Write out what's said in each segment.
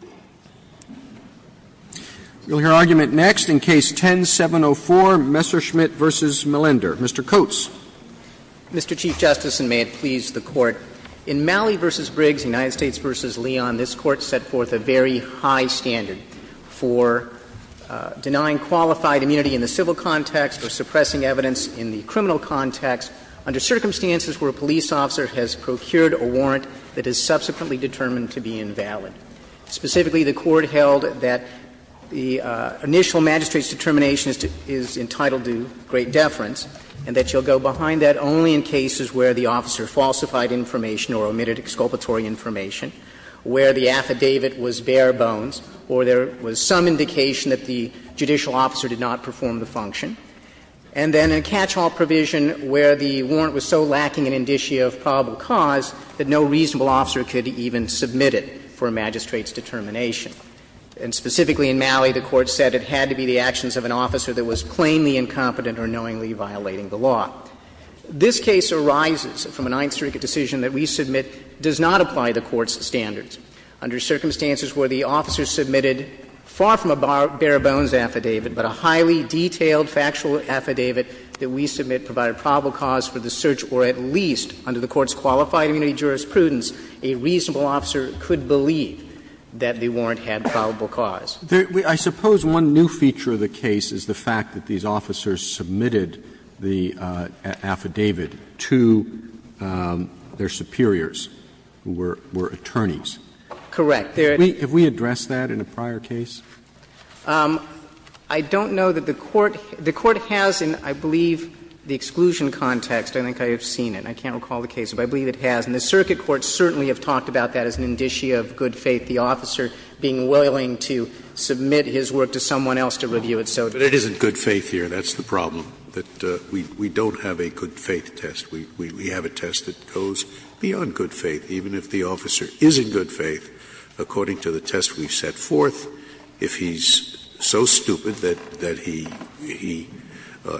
v. Leon, this Court set forth a very high standard for denying qualified immunity in the civil context or suppressing evidence in the criminal context under circumstances where a police officer has procured a warrant that is subsequently determined to be invalid. Specifically, the Court held that the initial magistrate's determination is entitled to great deference and that you'll go behind that only in cases where the officer falsified information or omitted exculpatory information, where the affidavit was bare bones or there was some indication that the judicial officer did not perform the function. And then a catch-all provision where the warrant was so lacking an indicia of probable cause that no reasonable officer could even submit it for a magistrate's determination. And specifically in Malley, the Court said it had to be the actions of an officer that was plainly incompetent or knowingly violating the law. This case arises from a Ninth Circuit decision that we submit does not apply the Court's standards. Under circumstances where the officer submitted far from a bare bones affidavit, but a highly detailed factual affidavit that we submit provided probable cause for the search, or at least under the Court's qualified immunity jurisprudence, a reasonable officer could believe that the warrant had probable cause. Roberts. I suppose one new feature of the case is the fact that these officers submitted the affidavit to their superiors, who were attorneys. Correct. Have we addressed that in a prior case? I don't know that the Court has in, I believe, the exclusion context. I think I have seen it. I can't recall the case, but I believe it has. And the circuit courts certainly have talked about that as an indicia of good faith, the officer being willing to submit his work to someone else to review it so that it isn't good faith here. That's the problem, that we don't have a good faith test. We have a test that goes beyond good faith. Even if the officer is in good faith, according to the test we've set forth, if he's so stupid that he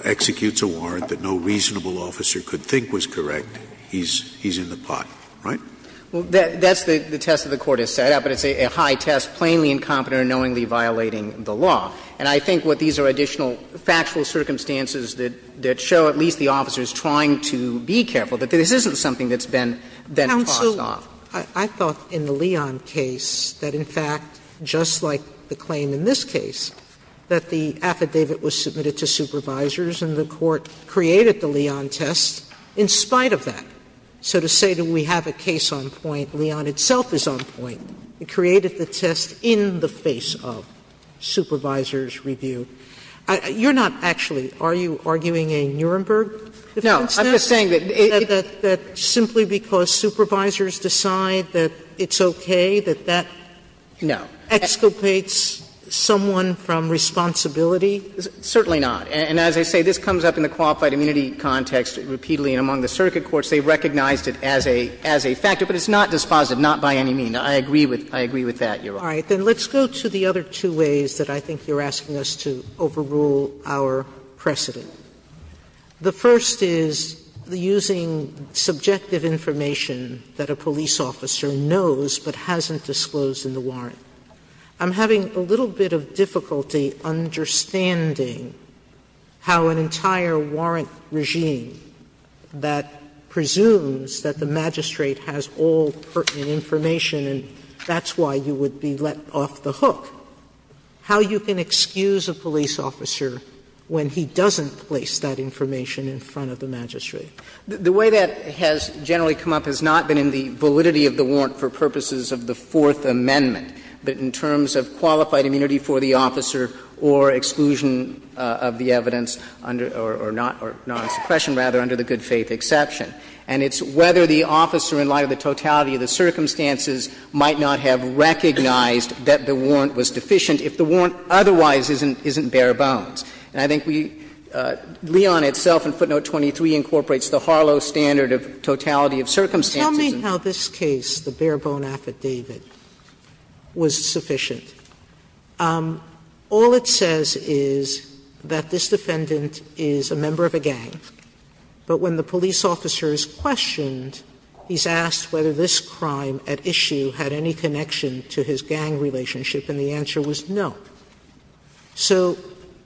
executes a warrant that no reasonable officer could think was correct, he's in the pot, right? Well, that's the test that the Court has set out, but it's a high test, plainly incompetent or knowingly violating the law. And I think what these are additional factual circumstances that show at least the officers trying to be careful, that this isn't something that's been then tossed off. Sotomayor, I thought in the Leon case that, in fact, just like the claim in this case, that the affidavit was submitted to supervisors and the Court created the Leon test in spite of that. So to say that we have a case on point, Leon itself is on point. It created the test in the face of supervisors' review. You're not actually – are you arguing a Nuremberg defense now? No. I'm just saying that it – That simply because supervisors decide that it's okay, that that exculpates someone from responsibility? Certainly not. And as I say, this comes up in the qualified immunity context repeatedly, and among the circuit courts they recognized it as a factor, but it's not dispositive, not by any means. I agree with that, Your Honor. All right. Then let's go to the other two ways that I think you're asking us to overrule our precedent. The first is using subjective information that a police officer knows but hasn't disclosed in the warrant. I'm having a little bit of difficulty understanding how an entire warrant regime that presumes that the magistrate has all pertinent information and that's why you would be let off the hook, how you can excuse a police officer when he doesn't place that information in front of the magistrate. The way that has generally come up has not been in the validity of the warrant for purposes of the Fourth Amendment, but in terms of qualified immunity for the officer or exclusion of the evidence under – or non-suppression, rather, under the good faith exception. And it's whether the officer, in light of the totality of the circumstances, might not have recognized that the warrant was deficient if the warrant otherwise isn't bare bones. And I think we – Leon itself in footnote 23 incorporates the Harlow standard of totality of circumstances. Sotomayor, tell me how this case, the bare bone affidavit, was sufficient. All it says is that this defendant is a member of a gang, but when the police officer is questioned, he's asked whether this crime at issue had any connection to his gang relationship and the answer was no. So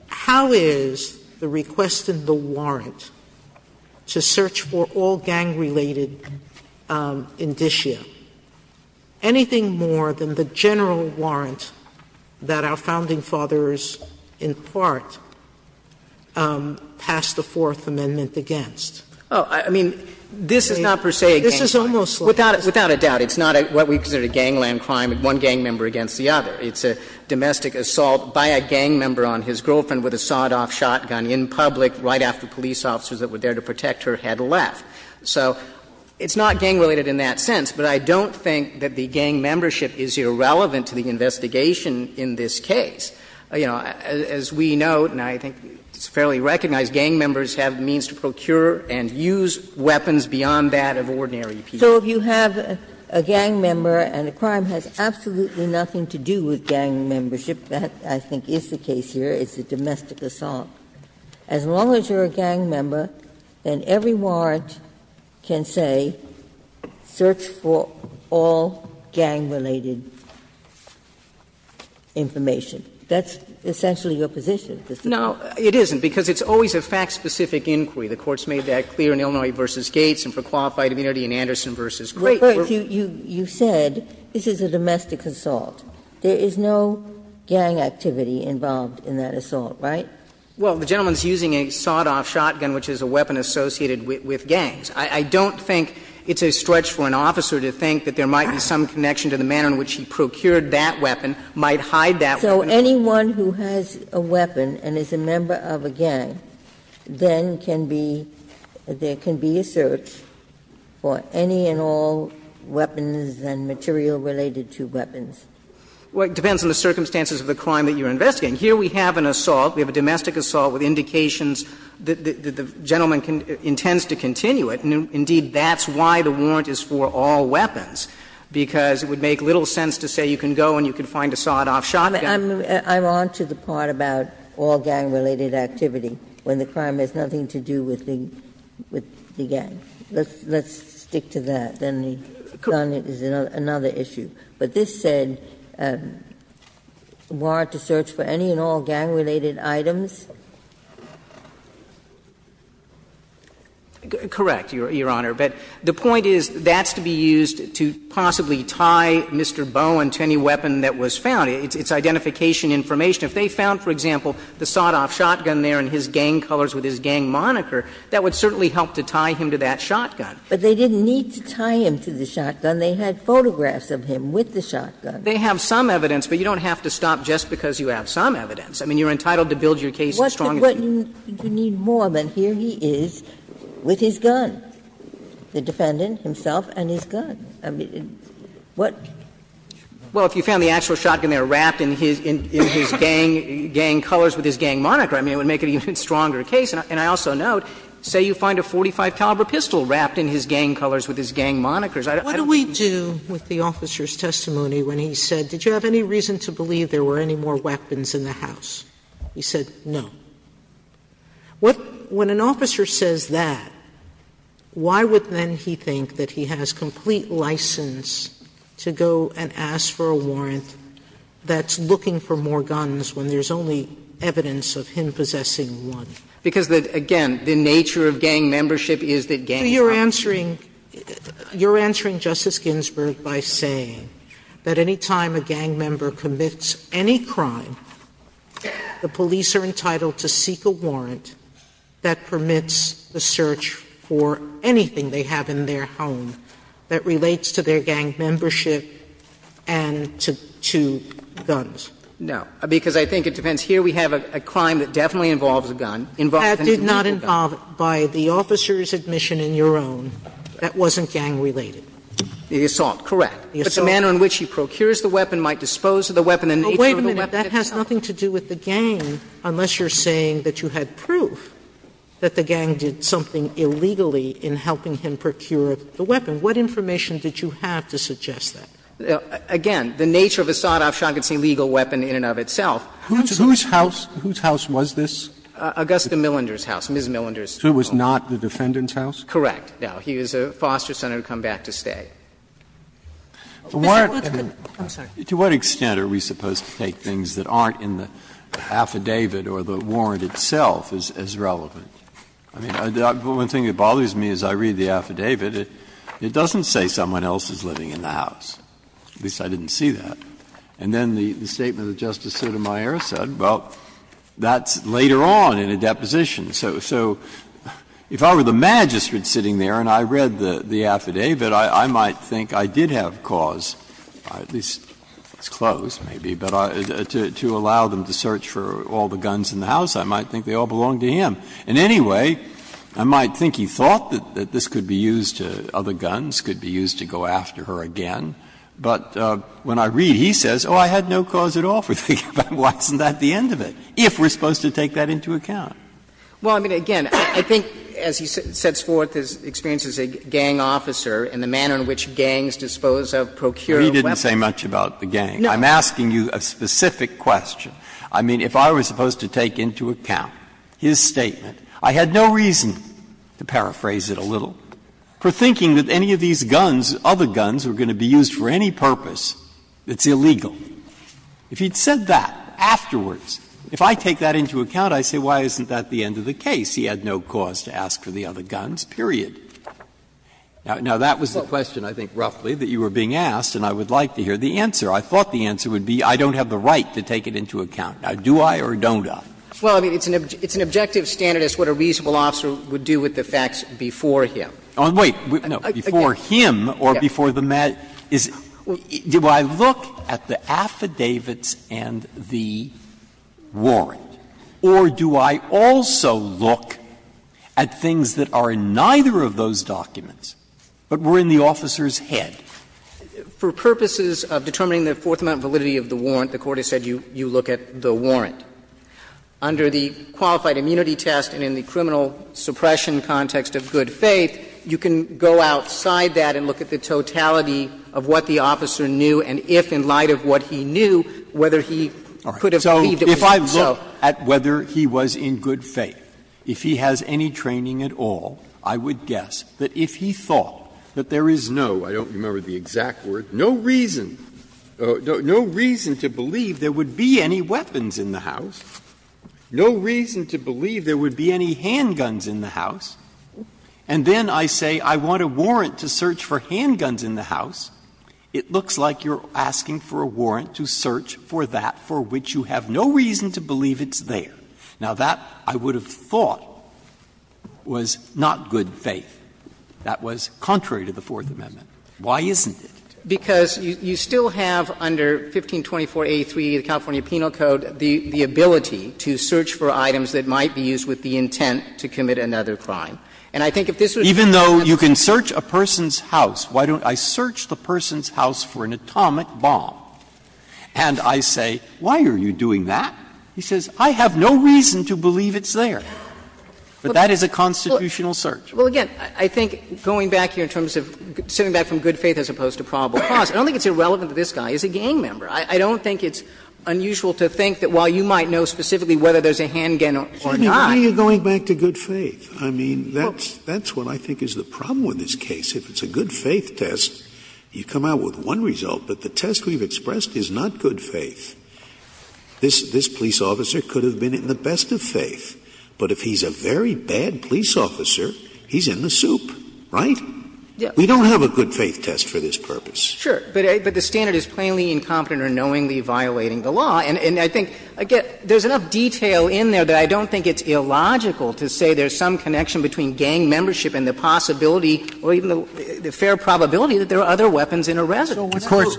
how is the request in the warrant to search for all gang-related indicia anything more than the general warrant that our Founding Fathers, in part, passed the Fourth Amendment against? Oh, I mean, this is not per se a gang crime. This is almost like a gang crime. Without a doubt, it's not what we consider a gangland crime, one gang member against the other. It's a domestic assault by a gang member on his girlfriend with a sawed-off shotgun in public right after police officers that were there to protect her had left. So it's not gang-related in that sense, but I don't think that the gang membership is irrelevant to the investigation in this case. You know, as we note, and I think it's fairly recognized, gang members have means to procure and use weapons beyond that of ordinary people. Ginsburg, if you have a gang member and the crime has absolutely nothing to do with gang membership, that, I think, is the case here, it's a domestic assault, as long as you're a gang member, then every warrant can say, search for all gang-related information. That's essentially your position, isn't it? Now, it isn't, because it's always a fact-specific inquiry. The Court's made that clear in Illinois v. Gates and for Qualified Immunity in Anderson v. Craig. You said this is a domestic assault. There is no gang activity involved in that assault, right? Well, the gentleman's using a sawed-off shotgun, which is a weapon associated with gangs. I don't think it's a stretch for an officer to think that there might be some connection So anyone who has a weapon and is a member of a gang, then can be, there can be a search for any and all weapons and material related to weapons. Well, it depends on the circumstances of the crime that you're investigating. Here we have an assault, we have a domestic assault with indications that the gentleman intends to continue it. Indeed, that's why the warrant is for all weapons, because it would make little sense to say you can go and you can find a sawed-off shotgun. I'm on to the part about all gang-related activity, when the crime has nothing to do with the gang. Let's stick to that. Then the gun is another issue. But this said, warrant to search for any and all gang-related items. Correct, Your Honor. But the point is, that's to be used to possibly tie Mr. Bowen to any weapon that was found. It's identification information. If they found, for example, the sawed-off shotgun there and his gang colors with his gang moniker, that would certainly help to tie him to that shotgun. But they didn't need to tie him to the shotgun. They had photographs of him with the shotgun. They have some evidence, but you don't have to stop just because you have some evidence. I mean, you're entitled to build your case as strong as you can. What do you need more than here he is with his gun? The defendant himself and his gun. I mean, what? Well, if you found the actual shotgun there wrapped in his gang colors with his gang moniker, I mean, it would make it an even stronger case. And I also note, say you find a .45 caliber pistol wrapped in his gang colors I don't think you need to tie him to that. Sotomayor What do we do with the officer's testimony when he said, did you have any reason to believe there were any more weapons in the house? He said no. What, when an officer says that, why would then he think that he has complete license to go and ask for a warrant that's looking for more guns when there's only evidence of him possessing one? Because, again, the nature of gang membership is that gangs have more guns. Sotomayor You're answering Justice Ginsburg by saying that any time a gang member commits any crime, the police are entitled to seek a warrant that permits the search for anything they have in their home that relates to their gang membership and to guns. No. Because I think it depends. Here we have a crime that definitely involves a gun. Sotomayor That did not involve, by the officer's admission in your own, that wasn't gang-related. The assault, correct. But the manner in which he procures the weapon might dispose of the weapon and the nature of the weapon itself. Sotomayor But wait a minute. That has nothing to do with the gang, unless you're saying that you had proof that the gang did something illegally in helping him procure the weapon. What information did you have to suggest that? Again, the nature of a sawed-off shotgun is an illegal weapon in and of itself. Sotomayor Whose house was this? Agusta Millinder's house, Ms. Millinder's home. Sotomayor So it was not the defendant's house? Correct. Now, he was a foster son who had come back to stay. Breyer To what extent are we supposed to take things that aren't in the affidavit or the warrant itself as relevant? I mean, the only thing that bothers me as I read the affidavit, it doesn't say someone else is living in the house. At least, I didn't see that. And then the statement that Justice Sotomayor said, well, that's later on in a deposition. So if I were the magistrate sitting there and I read the affidavit, I might think I did have cause, at least, it's closed maybe, but to allow them to search for all the guns in the house, I might think they all belonged to him. In any way, I might think he thought that this could be used to other guns, could be used to go after her again. But when I read, he says, oh, I had no cause at all for thinking about it. Why isn't that the end of it, if we're supposed to take that into account? Well, I mean, again, I think as he sets forth his experience as a gang officer and the manner in which gangs dispose of, procure weapons. Breyer. He didn't say much about the gang. I'm asking you a specific question. I mean, if I was supposed to take into account his statement, I had no reason, to paraphrase it a little, for thinking that any of these guns, other guns, were going to be used for any purpose that's illegal. If he'd said that afterwards, if I take that into account, I say, why isn't that the end of the case? He had no cause to ask for the other guns, period. Now, that was the question, I think, roughly, that you were being asked, and I would like to hear the answer. I thought the answer would be, I don't have the right to take it into account. Now, do I or don't I? Well, I mean, it's an objective standard as to what a reasonable officer would do with the facts before him. Oh, wait. No. Before him or before the matter is, do I look at the affidavits and the warrant, or do I also look at things that are in neither of those documents, but were in the officer's head? For purposes of determining the fourth-amount validity of the warrant, the Court has said you look at the warrant. Under the Qualified Immunity Test and in the criminal suppression context of good faith, you can go outside that and look at the totality of what the officer knew, and if, in light of what he knew, whether he could have agreed it was so. So if I look at whether he was in good faith, if he has any training at all, I would guess that if he thought that there is no --" I don't remember the exact word --" no reason, no reason to believe there would be any weapons in the house, no reason to believe there would be any handguns in the house, and then I say I want a warrant to search for handguns in the house, it looks like you're asking for a warrant to search for that for which you have no reason to believe it's there. Now, that, I would have thought, was not good faith. That was contrary to the Fourth Amendment. Why isn't it? Because you still have under 1524a3, the California Penal Code, the ability to search for items that might be used with the intent to commit another crime. And I think if this was a constitutional search. Breyer, even though you can search a person's house, why don't I search the person's house for an atomic bomb, and I say, why are you doing that? He says, I have no reason to believe it's there. But that is a constitutional search. Well, again, I think going back here in terms of sitting back from good faith as opposed to probable cause, I don't think it's irrelevant to this guy. He's a gang member. I don't think it's unusual to think that while you might know specifically whether there's a handgun or not. Scalia, why are you going back to good faith? I mean, that's what I think is the problem with this case. If it's a good faith test, you come out with one result, but the test we've expressed is not good faith. This police officer could have been in the best of faith, but if he's a very bad police officer, he's in the soup, right? We don't have a good faith test for this purpose. Sure, but the standard is plainly incompetent or knowingly violating the law. And I think, again, there's enough detail in there that I don't think it's illogical to say there's some connection between gang membership and the possibility or even the fair probability that there are other weapons in a residence. Of course,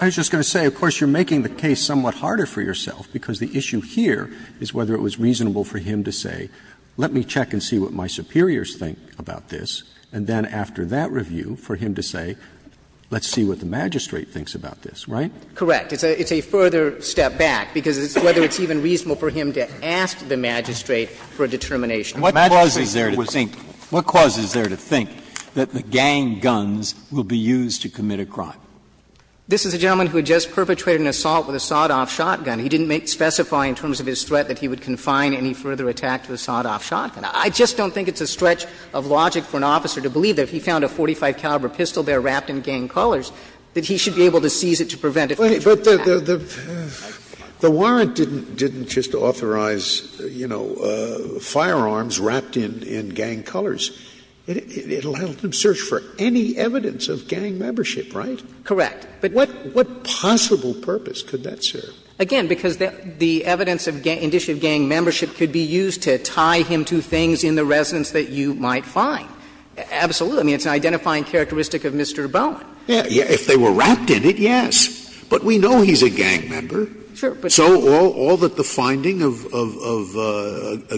I was just going to say, of course, you're making the case somewhat harder for yourself, because the issue here is whether it was reasonable for him to say, let me check and see what my superiors think about this, and then after that review, for him to say, let's see what the magistrate thinks about this, right? Correct. It's a further step back, because it's whether it's even reasonable for him to ask the magistrate for a determination. What causes there to think that the gang guns will be used to commit a crime? This is a gentleman who had just perpetrated an assault with a sawed-off shotgun. He didn't specify in terms of his threat that he would confine any further attack to a sawed-off shotgun. I just don't think it's a stretch of logic for an officer to believe that if he found a .45 caliber pistol there wrapped in gang colors, that he should be able to seize it to prevent a further attack. But the warrant didn't just authorize, you know, firearms wrapped in gang colors. It allowed him to search for any evidence of gang membership, right? Correct. But what possible purpose could that serve? Again, because the evidence of gang — indiction of gang membership could be used to tie him to things in the residence that you might find. Absolutely. I mean, it's an identifying characteristic of Mr. Bowen. If they were wrapped in it, yes. But we know he's a gang member. Sure. So all that the finding of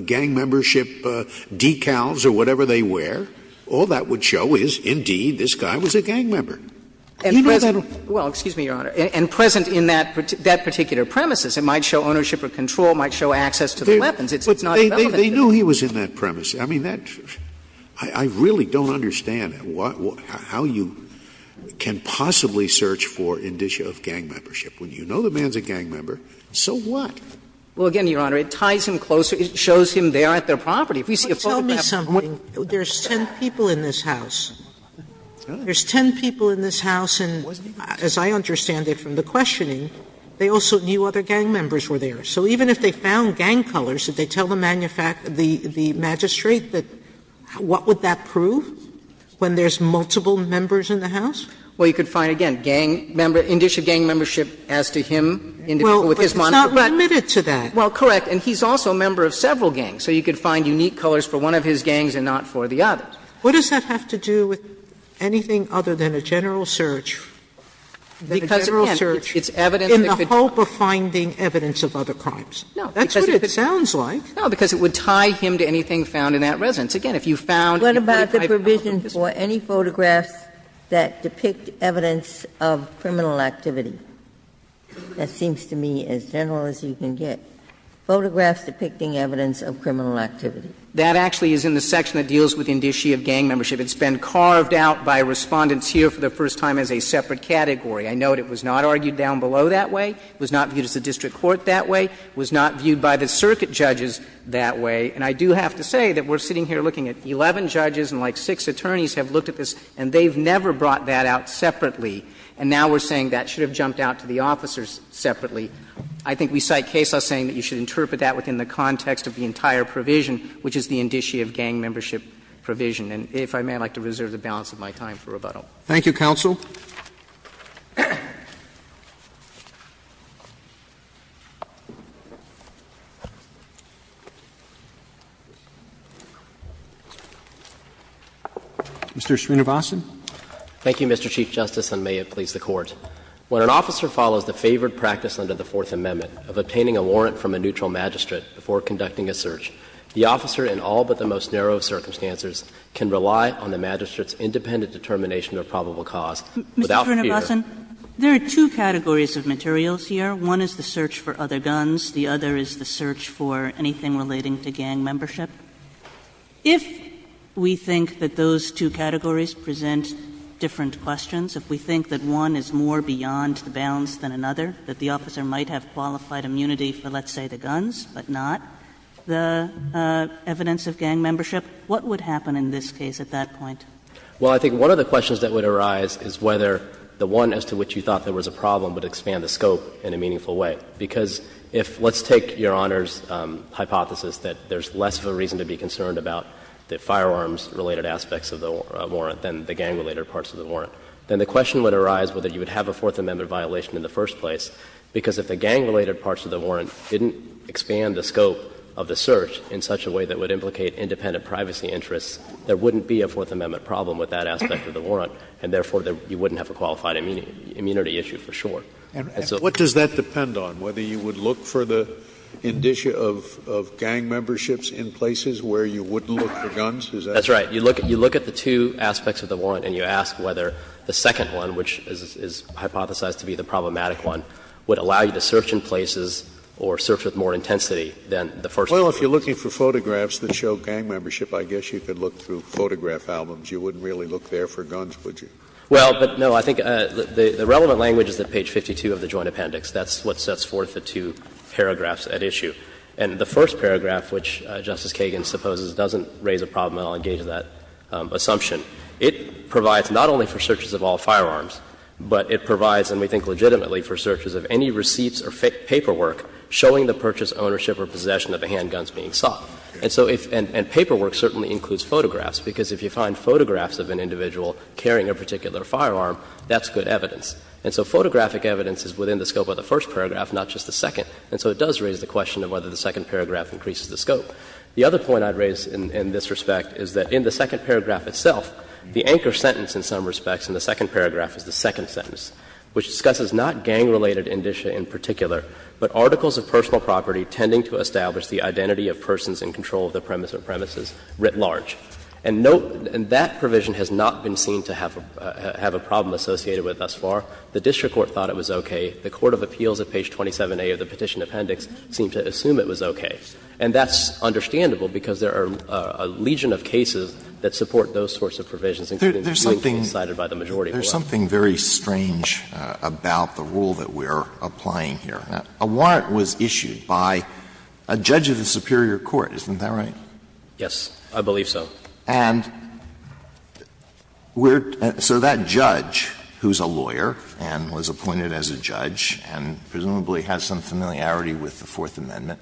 gang membership decals or whatever they wear, all that would show is, indeed, this guy was a gang member. You know that? Well, excuse me, Your Honor. And present in that particular premises. It might show ownership or control. It might show access to the weapons. But they knew he was in that premise. I mean, that's — I really don't understand how you can possibly search for indiction of gang membership. When you know the man's a gang member, so what? Well, again, Your Honor, it ties him closer. It shows him there at their property. If we see a photograph of him on the property, it shows him there at their property. Tell me something. There's 10 people in this house. There's 10 people in this house, and as I understand it from the questioning, they also knew other gang members were there. So even if they found gang colors, did they tell the magistrate that — what would that prove when there's multiple members in the house? Well, you could find, again, gang member — indication of gang membership as to him indicating with his monitor. Well, but it's not limited to that. Well, correct. And he's also a member of several gangs. So you could find unique colors for one of his gangs and not for the others. What does that have to do with anything other than a general search? Because, again, it's evidence that could be found. And if you found a gang member, you could find evidence of other crimes. No, that's what it sounds like. No, because it would tie him to anything found in that residence. Again, if you found a 25-year-old — What about the provision for any photographs that depict evidence of criminal activity? That seems to me as general as you can get. Photographs depicting evidence of criminal activity. That actually is in the section that deals with indicia of gang membership. It's been carved out by Respondents here for the first time as a separate category. I note it was not argued down below that way. It was not viewed as a district court that way. It was not viewed by the circuit judges that way. And I do have to say that we're sitting here looking at 11 judges and, like, six attorneys have looked at this, and they've never brought that out separately. And now we're saying that should have jumped out to the officers separately. I think we cite Kessler saying that you should interpret that within the context of the entire provision, which is the indicia of gang membership provision. And if I may, I'd like to reserve the balance of my time for rebuttal. Roberts. Thank you, counsel. Mr. Srinivasan. Thank you, Mr. Chief Justice, and may it please the Court. When an officer follows the favored practice under the Fourth Amendment of obtaining a warrant from a neutral magistrate before conducting a search, the officer in all but the most narrow of circumstances can rely on the magistrate's independent determination of probable cause without fear. Ms. Srinivasan, there are two categories of materials here. One is the search for other guns. The other is the search for anything relating to gang membership. If we think that those two categories present different questions, if we think that one is more beyond the bounds than another, that the officer might have qualified immunity for, let's say, the guns, but not the evidence of gang membership, what would happen in this case at that point? Well, I think one of the questions that would arise is whether the one as to which you thought there was a problem would expand the scope in a meaningful way. Because if let's take Your Honor's hypothesis that there's less of a reason to be concerned about the firearms-related aspects of the warrant than the gang-related parts of the warrant, then the question would arise whether you would have a Fourth Amendment violation in the first place. Because if the gang-related parts of the warrant didn't expand the scope of the search in such a way that would implicate independent privacy interests, there wouldn't be a Fourth Amendment problem with that aspect of the warrant, and therefore you wouldn't have a qualified immunity issue for sure. And so what does that depend on, whether you would look for the indicia of gang memberships in places where you wouldn't look for guns? Is that right? That's right. You look at the two aspects of the warrant and you ask whether the second one, which is hypothesized to be the problematic one, would allow you to search in places or search with more intensity than the first one. Scalia. Well, if you're looking for photographs that show gang membership, I guess you could look through photograph albums. You wouldn't really look there for guns, would you? Well, but no. I think the relevant language is at page 52 of the Joint Appendix. That's what sets forth the two paragraphs at issue. And the first paragraph, which Justice Kagan supposes doesn't raise a problem and I'll engage in that assumption, it provides not only for searches of all firearms, but it provides, and we think legitimately, for searches of any receipts or paperwork showing the purchase, ownership, or possession of the handguns being sought. And so if — and paperwork certainly includes photographs, because if you find photographs of an individual carrying a particular firearm, that's good evidence. And so photographic evidence is within the scope of the first paragraph, not just the second. And so it does raise the question of whether the second paragraph increases the scope. The other point I'd raise in this respect is that in the second paragraph itself, the anchor sentence in some respects in the second paragraph is the second sentence, which discusses not gang-related indicia in particular, but articles of personal property tending to establish the identity of persons in control of the premise or premises writ large. And no — and that provision has not been seen to have a problem associated with thus far. The district court thought it was okay. The court of appeals at page 27A of the Petition Appendix seemed to assume it was okay. And that's understandable, because there are a legion of cases that support those sorts of provisions, including the one cited by the majority board. Alito, there's something very strange about the rule that we're applying here. A warrant was issued by a judge of the superior court, isn't that right? Yes, I believe so. And we're — so that judge, who's a lawyer and was appointed as a judge and presumably has some familiarity with the Fourth Amendment,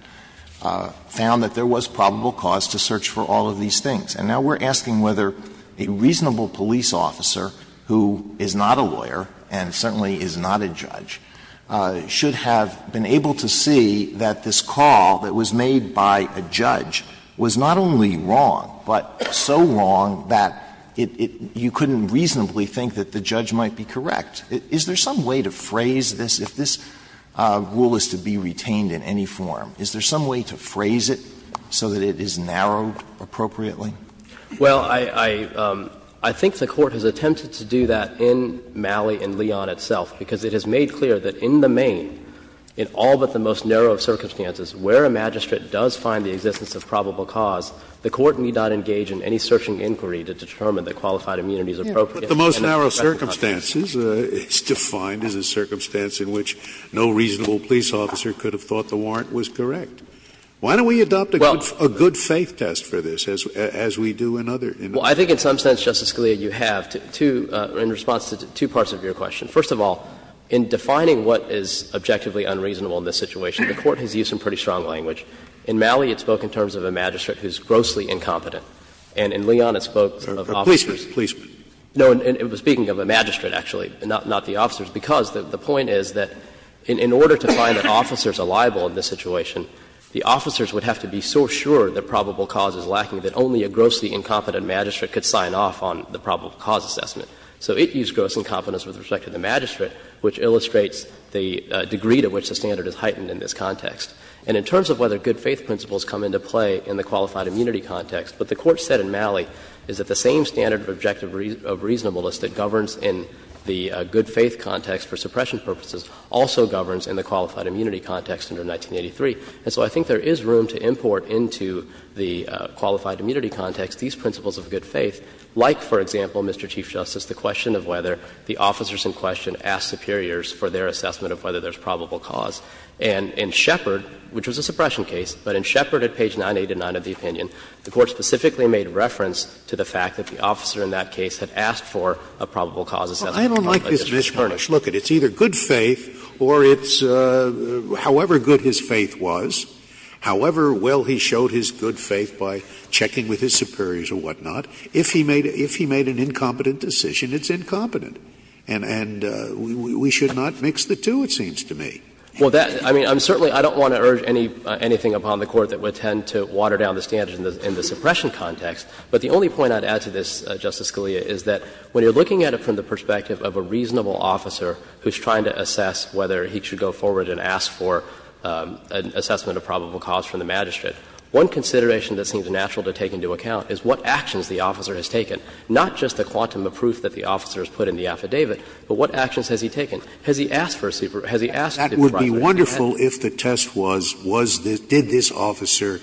found that there was probable cause to search for all of these things. And now we're asking whether a reasonable police officer who is not a lawyer and certainly is not a judge should have been able to see that this call that was made by a judge was not only wrong, but so wrong that it — you couldn't reasonably think that the judge might be correct. Is there some way to phrase this, if this rule is to be retained in any form, is there Well, I think the Court has attempted to do that in Malley and Leon itself, because it has made clear that in the main, in all but the most narrow of circumstances, where a magistrate does find the existence of probable cause, the Court need not engage in any searching inquiry to determine that qualified immunity is appropriate. Scalia, the most narrow of circumstances is defined as a circumstance in which no reasonable police officer could have thought the warrant was correct. Why don't we adopt a good faith test for this as we do in other industries? Well, I think in some sense, Justice Scalia, you have, in response to two parts of your question. First of all, in defining what is objectively unreasonable in this situation, the Court has used some pretty strong language. In Malley, it spoke in terms of a magistrate who is grossly incompetent, and in Leon it spoke of officers. Policeman, policeman. No, it was speaking of a magistrate, actually, not the officers, because the point is that in order to find that officers are liable in this situation, the officers would have to be so sure that probable cause is lacking that only a grossly incompetent magistrate could sign off on the probable cause assessment. So it used gross incompetence with respect to the magistrate, which illustrates the degree to which the standard is heightened in this context. And in terms of whether good faith principles come into play in the qualified immunity context, what the Court said in Malley is that the same standard of objective reasonableness that governs in the good faith context for suppression purposes also governs in the qualified immunity context under 1983. And so I think there is room to import into the qualified immunity context these principles of good faith, like, for example, Mr. Chief Justice, the question of whether the officers in question ask superiors for their assessment of whether there's probable cause. And in Shepard, which was a suppression case, but in Shepard at page 989 of the opinion, the Court specifically made reference to the fact that the officer in that case had asked for a probable cause assessment. Scalia, I don't like this mishmash. Look, it's either good faith or it's however good his faith was, however well he showed his good faith by checking with his superiors or whatnot. If he made an incompetent decision, it's incompetent. And we should not mix the two, it seems to me. Well, that — I mean, I'm certainly — I don't want to urge anything upon the Court that would tend to water down the standards in the suppression context, but the only point I'd add to this, Justice Scalia, is that when you're looking at it from the perspective of a reasonable officer who's trying to assess whether he should go forward and ask for an assessment of probable cause from the magistrate, one consideration that seems natural to take into account is what actions the officer has taken, not just the quantum of proof that the officer has put in the affidavit, but what actions has he taken? Has he asked for a superior? Scalia, it would be wonderful if the test was, was this — did this officer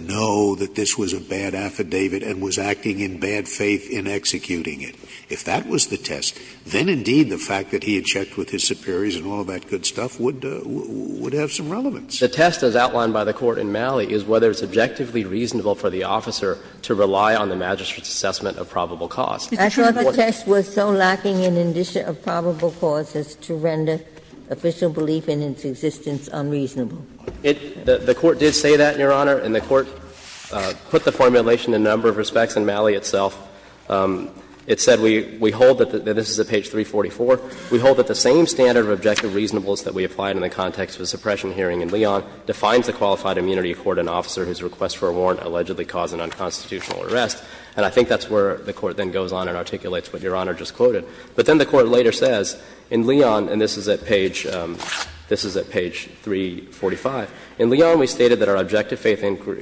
know that this was a bad affidavit and was acting in bad faith in executing it? If that was the test, then, indeed, the fact that he had checked with his superiors and all of that good stuff would have some relevance. The test, as outlined by the Court in Malley, is whether it's objectively reasonable for the officer to rely on the magistrate's assessment of probable cause. I thought the test was so lacking in indication of probable cause as to render official belief in its existence unreasonable. The Court did say that, Your Honor, and the Court put the formulation in a number of respects in Malley itself. It said we hold that the — this is at page 344 — we hold that the same standard of objective reasonableness that we applied in the context of the suppression hearing in Leon defines the qualified immunity of court in an officer whose request for a warrant allegedly caused an unconstitutional arrest, and I think that's where the Court then goes on and articulates what Your Honor just quoted. But then the Court later says in Leon, and this is at page — this is at page 345. In Leon, we stated that our objective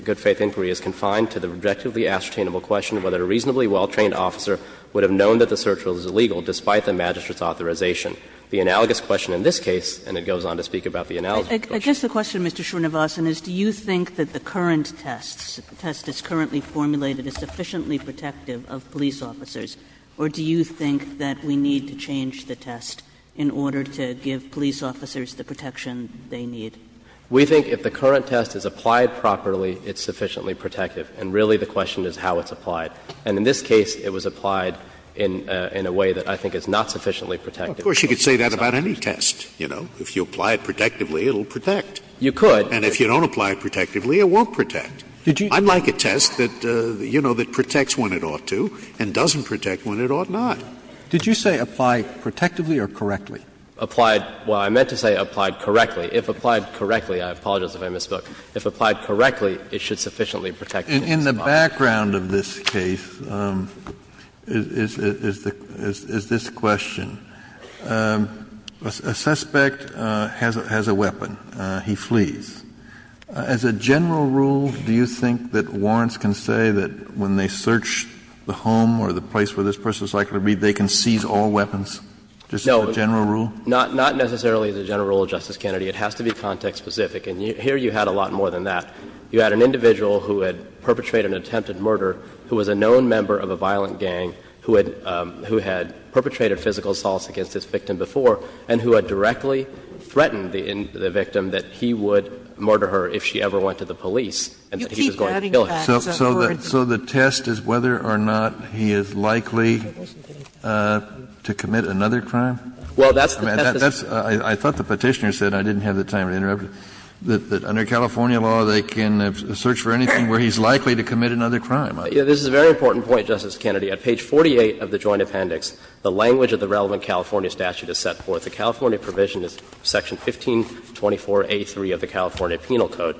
good faith inquiry is confined to the objectively ascertainable question whether a reasonably well-trained officer would have known that the search was illegal despite the magistrate's authorization. The analogous question in this case, and it goes on to speak about the analogous question. Kagan. I guess the question, Mr. Srinivasan, is do you think that the current test, the test that's currently formulated, is sufficiently protective of police officers, or do you think that we need to change the test in order to give police officers Srinivasan. We think if the current test is applied properly, it's sufficiently protective. And really the question is how it's applied. And in this case, it was applied in a way that I think is not sufficiently protective. Scalia. Of course, you could say that about any test, you know. If you apply it protectively, it will protect. Srinivasan. You could. And if you don't apply it protectively, it won't protect. I'd like a test that, you know, that protects when it ought to and doesn't protect when it ought not. Did you say apply protectively or correctly? Applied — well, I meant to say applied correctly. If applied correctly, I apologize if I misspoke, if applied correctly, it should sufficiently protect the police officer. In the background of this case is this question. A suspect has a weapon. He flees. As a general rule, do you think that warrants can say that when they search the home or the place where this person is likely to be, they can seize all weapons, just as a general rule? No. Not necessarily as a general rule, Justice Kennedy. It has to be context-specific. And here you had a lot more than that. You had an individual who had perpetrated an attempted murder who was a known member of a violent gang who had — who had perpetrated physical assaults against this victim before and who had directly threatened the victim that he would murder her if she ever went to the police and that he was going to kill her. So the test is whether or not he is likely to commit another crime? Well, that's the test. I thought the Petitioner said, I didn't have the time to interrupt, that under California law they can search for anything where he's likely to commit another crime. This is a very important point, Justice Kennedy. At page 48 of the Joint Appendix, the language of the relevant California statute is set forth. The California provision is section 1524A3 of the California Penal Code,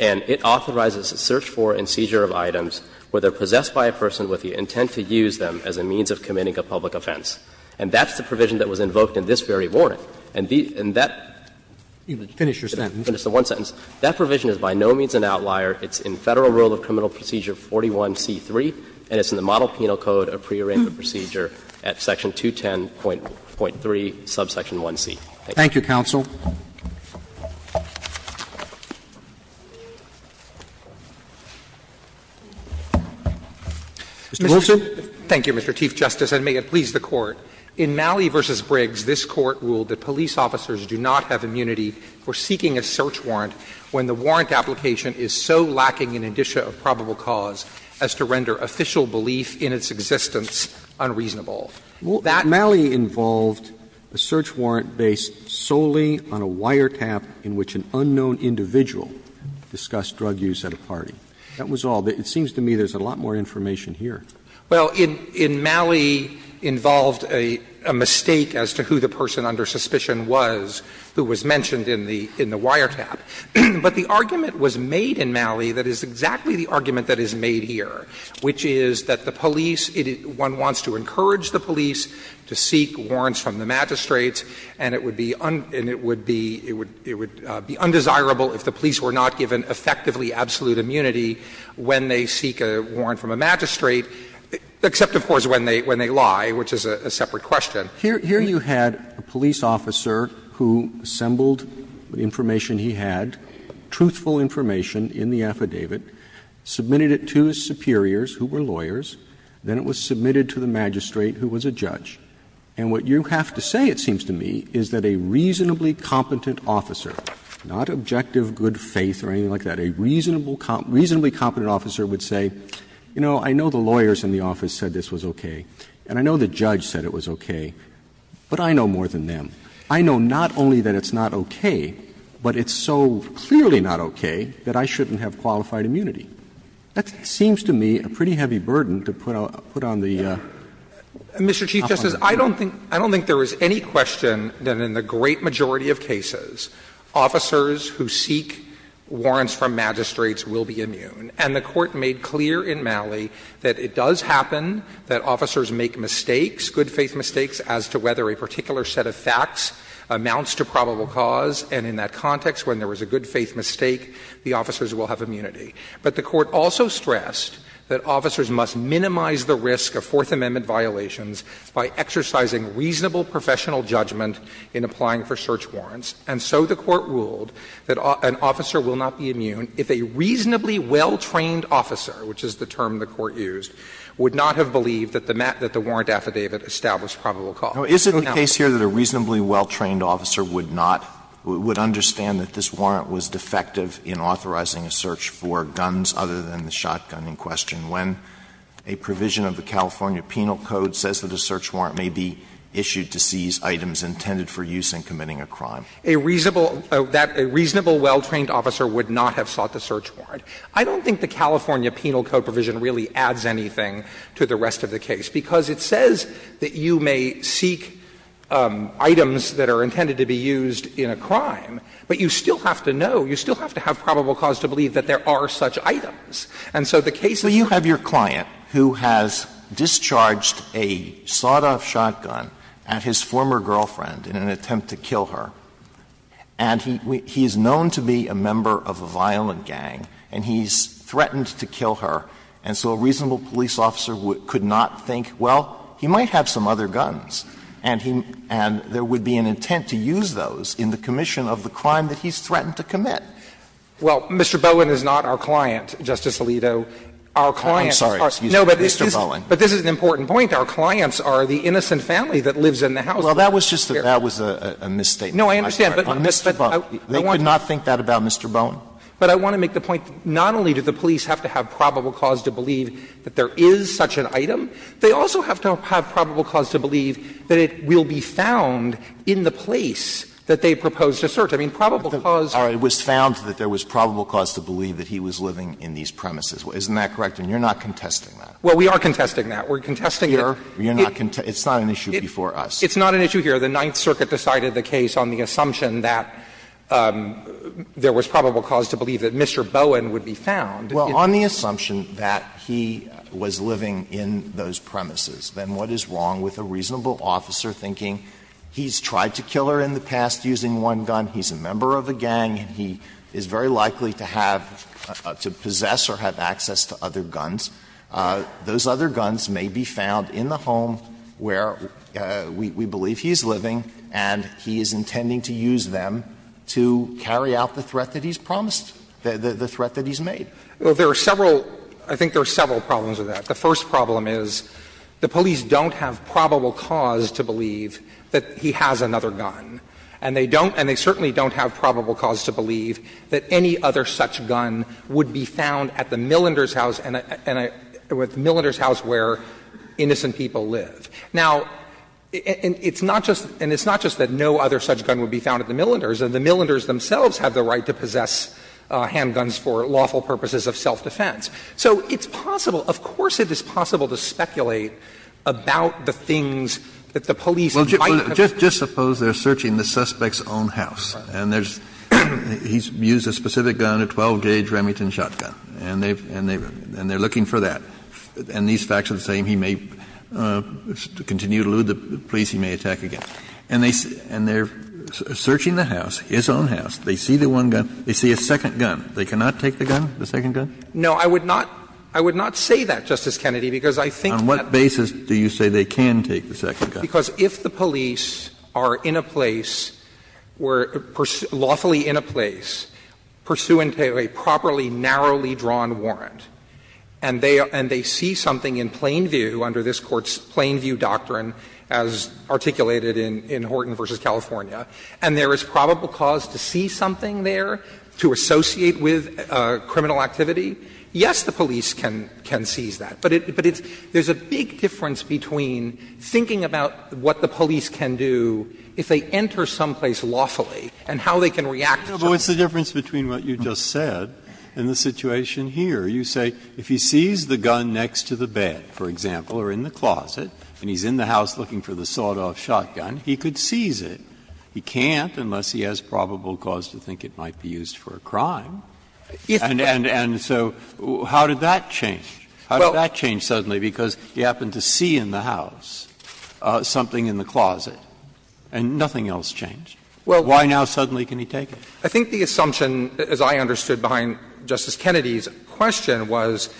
and it authorizes a search for and seizure of items where they are possessed by a person with the intent to use them as a means of committing a public offense. And that's the provision that was invoked in this very warrant. And that — Finish your sentence. That provision is by no means an outlier. It's in Federal Rule of Criminal Procedure 41C3, and it's in the Model Penal Code of Prearrangement Procedure at section 210.3, subsection 1C. Thank you. Thank you, counsel. Mr. Wilson. Thank you, Mr. Chief Justice, and may it please the Court. In Malley v. Briggs, this Court ruled that police officers do not have immunity for seeking a search warrant when the warrant application is so lacking in indicia of probable cause as to render official belief in its existence unreasonable. That was all. It seems to me there's a lot more information here. Well, in Malley involved a mistake as to who the person under suspicion was who was mentioned in the wiretap. But the argument was made in Malley that is exactly the argument that is made here, which is that the police — one wants to encourage the police to seek warrants from the magistrates, and it would be undesirable if the police were not given effectively absolute immunity when they seek a warrant from a magistrate, except of course when they lie, which is a separate question. Here you had a police officer who assembled the information he had, truthful information in the affidavit, submitted it to his superiors who were lawyers, then it was submitted to the magistrate who was a judge. And what you have to say, it seems to me, is that a reasonably competent officer — not objective good faith or anything like that, a reasonably competent officer would say, you know, I know the lawyers in the office said this was okay, and I know the judge said it was okay, but I know more than them. I know not only that it's not okay, but it's so clearly not okay that I shouldn't have qualified immunity. That seems to me a pretty heavy burden to put on the officer. Clements. Mr. Chief Justice, I don't think there is any question that in the great majority of cases, officers who seek warrants from magistrates will be immune. And the Court made clear in Malley that it does happen that officers make mistakes, good faith mistakes, as to whether a particular set of facts amounts to probable cause, and in that context, when there is a good faith mistake, the officers will have immunity. But the Court also stressed that officers must minimize the risk of Fourth Amendment violations by exercising reasonable professional judgment in applying for search warrants. And so the Court ruled that an officer will not be immune if a reasonably well-trained officer, which is the term the Court used, would not have believed that the warrant affidavit established probable cause. Alito, is it the case here that a reasonably well-trained officer would not, would understand that this warrant was defective in authorizing a search for guns other than the shotgun in question, when a provision of the California Penal Code says that a search warrant may be issued to seize items intended for use in committing a crime? A reasonable, that a reasonable well-trained officer would not have sought the search warrant. I don't think the California Penal Code provision really adds anything to the rest of the case, because it says that you may seek items that are intended to be used in a crime, but you still have to know, you still have to have probable cause to believe that there are such items. And so the case in this case is that a reasonable well-trained officer would not have his former girlfriend in an attempt to kill her, and he is known to be a member of a violent gang, and he's threatened to kill her, and so a reasonable police officer could not think, well, he might have some other guns, and there would be an intent to use those in the commission of the crime that he's threatened to commit. Well, Mr. Bowen is not our client, Justice Alito. Our clients are. I'm sorry. Excuse me, Mr. Bowen. No, but this is an important point. Our clients are the innocent family that lives in the house. Well, that was just a — that was a misstatement. No, I understand, but I want to make the point that not only did the police have to have probable cause to believe that there is such an item, they also have to have probable cause to believe that it will be found in the place that they proposed to search. I mean, probable cause. All right. It was found that there was probable cause to believe that he was living in these premises. Isn't that correct? And you're not contesting that. Well, we are contesting that. We're contesting that. You're not contesting — it's not an issue before us. It's not an issue here. The Ninth Circuit decided the case on the assumption that there was probable cause to believe that Mr. Bowen would be found. Well, on the assumption that he was living in those premises, then what is wrong with a reasonable officer thinking he's tried to kill her in the past using one gun, he's a member of a gang, and he is very likely to have — to possess or have access to other guns? Those other guns may be found in the home where we believe he's living and he is intending to use them to carry out the threat that he's promised, the threat that he's made. Well, there are several — I think there are several problems with that. The first problem is the police don't have probable cause to believe that he has another gun, and they don't — and they certainly don't have probable cause to believe that any other such gun would be found at the Millender's house and — at the Millender's house where innocent people live. Now, it's not just — and it's not just that no other such gun would be found at the Millender's. The Millender's themselves have the right to possess handguns for lawful purposes of self-defense. So it's possible — of course it is possible to speculate about the things that the police might have— Kennedy, just suppose they're searching the suspect's own house, and there's a gun, and he's used a specific gun, a 12-gauge Remington shotgun, and they've — and they're looking for that, and these facts are the same, he may continue to elude the police, he may attack again. And they're searching the house, his own house, they see the one gun, they see a second gun, they cannot take the gun, the second gun? No, I would not — I would not say that, Justice Kennedy, because I think that— On what basis do you say they can take the second gun? Because if the police are in a place, lawfully in a place, pursuant to a properly narrowly drawn warrant, and they see something in plain view under this Court's plain view doctrine as articulated in Horton v. California, and there is probable cause to see something there to associate with criminal activity, yes, the police can seize that. But it's — there's a big difference between thinking about what the police can do if they enter someplace lawfully, and how they can react to that. Breyer, but what's the difference between what you just said and the situation here? You say if he sees the gun next to the bed, for example, or in the closet, and he's in the house looking for the sawed-off shotgun, he could seize it. He can't unless he has probable cause to think it might be used for a crime. And so how did that change? How did that change suddenly? Because he happened to see in the house something in the closet, and nothing else changed. Why now suddenly can he take it? I think the assumption, as I understood behind Justice Kennedy's question, was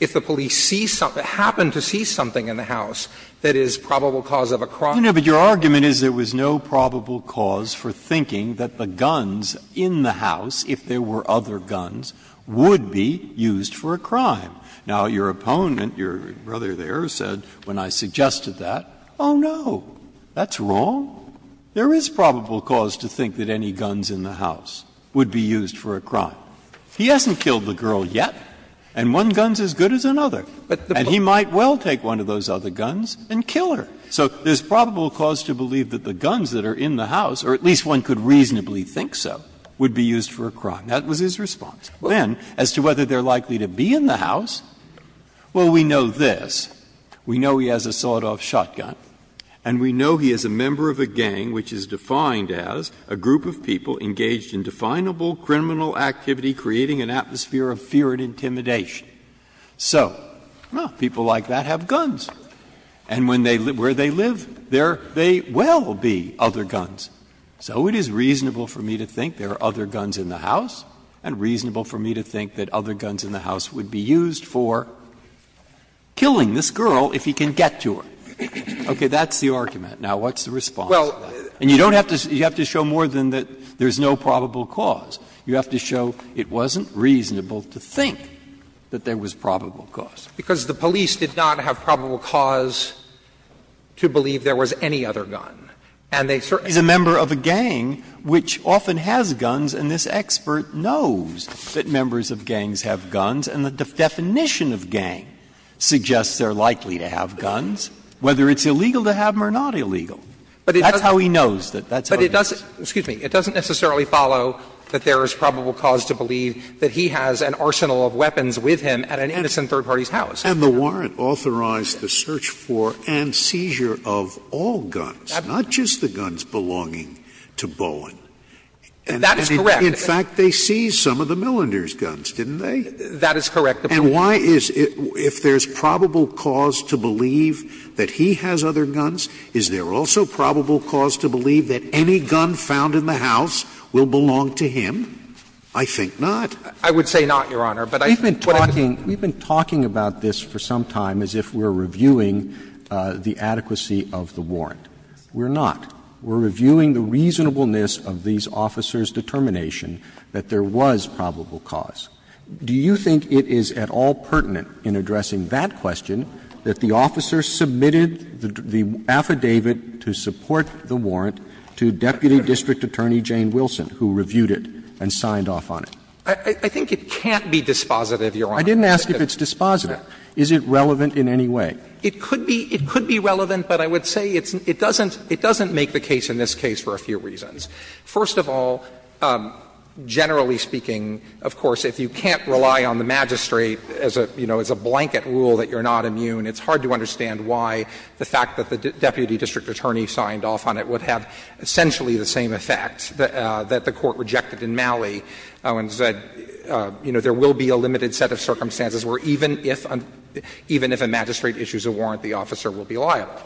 if the police see something, happen to see something in the house that is probable cause of a crime. No, but your argument is there was no probable cause for thinking that the guns in the house, if there were other guns, would be used for a crime. Now, your opponent, your brother there, said when I suggested that, oh, no, that's wrong. There is probable cause to think that any guns in the house would be used for a crime. He hasn't killed the girl yet, and one gun is as good as another. And he might well take one of those other guns and kill her. So there's probable cause to believe that the guns that are in the house, or at least one could reasonably think so, would be used for a crime. That was his response. Then, as to whether they are likely to be in the house, well, we know this. We know he has a sawed-off shotgun, and we know he is a member of a gang which is defined as a group of people engaged in definable criminal activity creating an atmosphere of fear and intimidation. So, well, people like that have guns. And where they live, there may well be other guns. So it is reasonable for me to think there are other guns in the house and reasonable for me to think that other guns in the house would be used for killing this girl if he can get to her. Okay. That's the argument. Now, what's the response to that? And you don't have to show more than that there is no probable cause. You have to show it wasn't reasonable to think that there was probable cause. Because the police did not have probable cause to believe there was any other gun. And they certainly didn't. He's a member of a gang which often has guns, and this expert knows that members of gangs have guns, and the definition of gang suggests they're likely to have guns, whether it's illegal to have them or not illegal. That's how he knows that that's how it is. But it doesn't, excuse me, it doesn't necessarily follow that there is probable cause to believe that he has an arsenal of weapons with him at an innocent third party's house. And the warrant authorized the search for and seizure of all guns, not just the guns belonging to Bowen. That is correct. In fact, they seized some of the Millender's guns, didn't they? That is correct. And why is it, if there's probable cause to believe that he has other guns, is there also probable cause to believe that any gun found in the house will belong to him? I think not. I would say not, Your Honor. But I think what I'm saying is that we've been talking about this for some time as if we're reviewing the adequacy of the warrant. We're not. We're reviewing the reasonableness of these officers' determination that there was probable cause. Do you think it is at all pertinent in addressing that question that the officer submitted the affidavit to support the warrant to Deputy District Attorney Jane Wilson, who reviewed it and signed off on it? I think it can't be dispositive, Your Honor. I didn't ask if it's dispositive. Is it relevant in any way? It could be relevant, but I would say it doesn't make the case in this case for a few reasons. First of all, generally speaking, of course, if you can't rely on the magistrate as a, you know, as a blanket rule that you're not immune, it's hard to understand why the fact that the Deputy District Attorney signed off on it would have essentially the same effect that the Court rejected in Malley and said, you know, there will be a limited set of circumstances where even if a magistrate issues a warrant, the officer will be liable.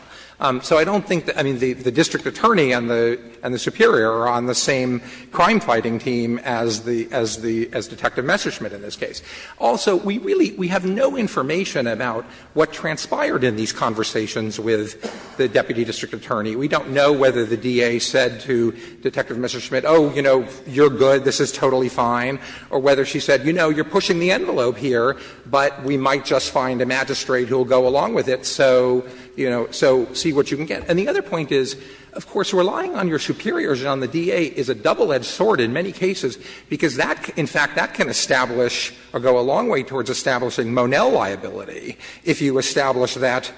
So I don't think that the district attorney and the superior are on the same crime fighting team as Detective Messerschmidt in this case. Also, we really have no information about what transpired in these conversations with the Deputy District Attorney. We don't know whether the DA said to Detective Messerschmidt, oh, you know, you're good, this is totally fine, or whether she said, you know, you're pushing the envelope here, but we might just find a magistrate who will go along with it, so, you know, so see what you can get. And the other point is, of course, relying on your superiors and on the DA is a double-edged sword in many cases, because that, in fact, that can establish or go a long way towards establishing Monell liability if you establish that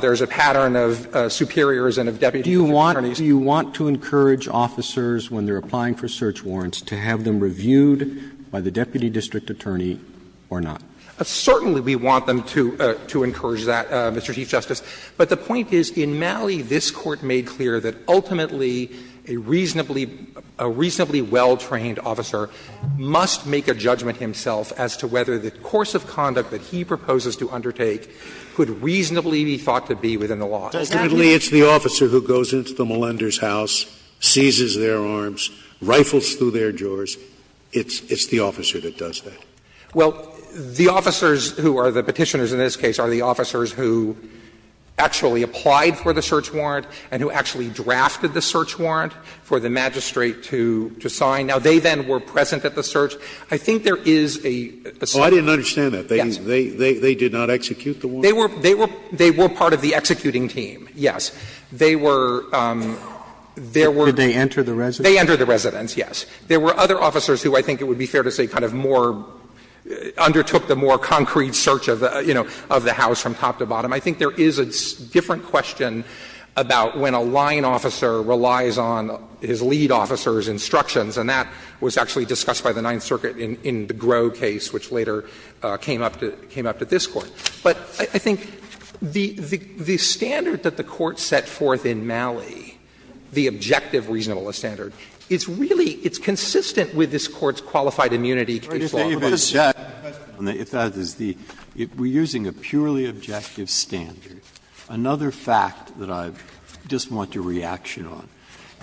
there is a pattern of superiors and of Deputy District Attorneys. Roberts, do you want to encourage officers, when they're applying for search warrants, to have them reviewed by the Deputy District Attorney or not? Certainly we want them to encourage that, Mr. Chief Justice, but the point is, in Malley, this Court made clear that ultimately a reasonably well-trained officer must make a judgment himself as to whether the course of conduct that he proposes to undertake could reasonably be thought to be within the law. It's the officer who goes into the Mollender's house, seizes their arms, rifles through their drawers. It's the officer that does that. Well, the officers who are the Petitioners in this case are the officers who actually applied for the search warrant and who actually drafted the search warrant for the magistrate to sign. Now, they then were present at the search. I think there is a certain point. Oh, I didn't understand that. They did not execute the warrant? They were part of the executing team, yes. They were, there were. Did they enter the residence? They entered the residence, yes. There were other officers who I think it would be fair to say kind of more undertook the more concrete search of the, you know, of the house from top to bottom. I think there is a different question about when a line officer relies on his lead officer's instructions, and that was actually discussed by the Ninth Circuit in the Groh case, which later came up to this Court. But I think the standard that the Court set forth in Malley, the objective reasonableness standard, it's really, it's consistent with this Court's qualified immunity case law. Breyer, if I could just add a question. If that is the, we are using a purely objective standard. Another fact that I just want your reaction on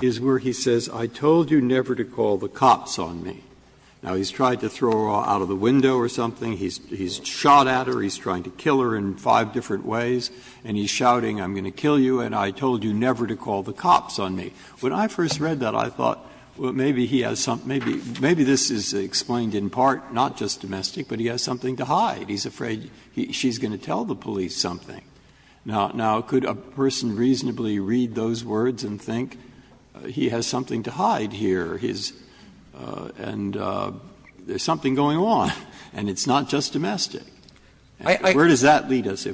is where he says, I told you never to call the cops on me. Now, he's tried to throw her out of the window or something. He's shot at her. He's trying to kill her in five different ways, and he's shouting, I'm going to kill you, and I told you never to call the cops on me. When I first read that, I thought, well, maybe he has something, maybe this is explained in part, not just domestic, but he has something to hide. He's afraid she's going to tell the police something. Now, could a person reasonably read those words and think he has something to hide here, his, and there's something going on, and it's not just domestic? Where does that lead us?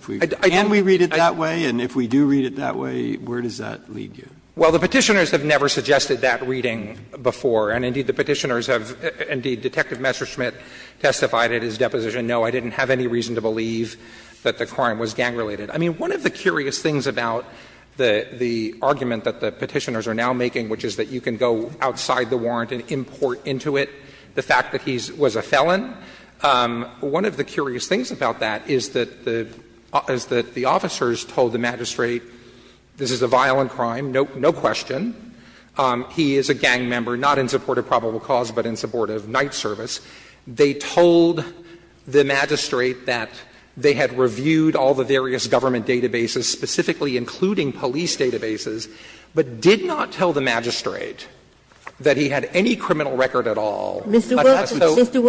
Can we read it that way, and if we do read it that way, where does that lead you? Well, the Petitioners have never suggested that reading before, and indeed, the Petitioners have, indeed, Detective Messerschmidt testified at his deposition, no, I didn't have any reason to believe that the crime was gang-related. I mean, one of the curious things about the argument that the Petitioners are now making, which is that you can go outside the warrant and import into it the fact that he was a felon, one of the curious things about that is that the officers told the magistrate, this is a violent crime, no question, he is a gang member, not in support of probable cause, but in support of night service. They told the magistrate that they had reviewed all the various government databases, specifically including police databases, but did not tell the magistrate that he had any criminal record at all. But that's so. Ginsburg-Mills, Mr.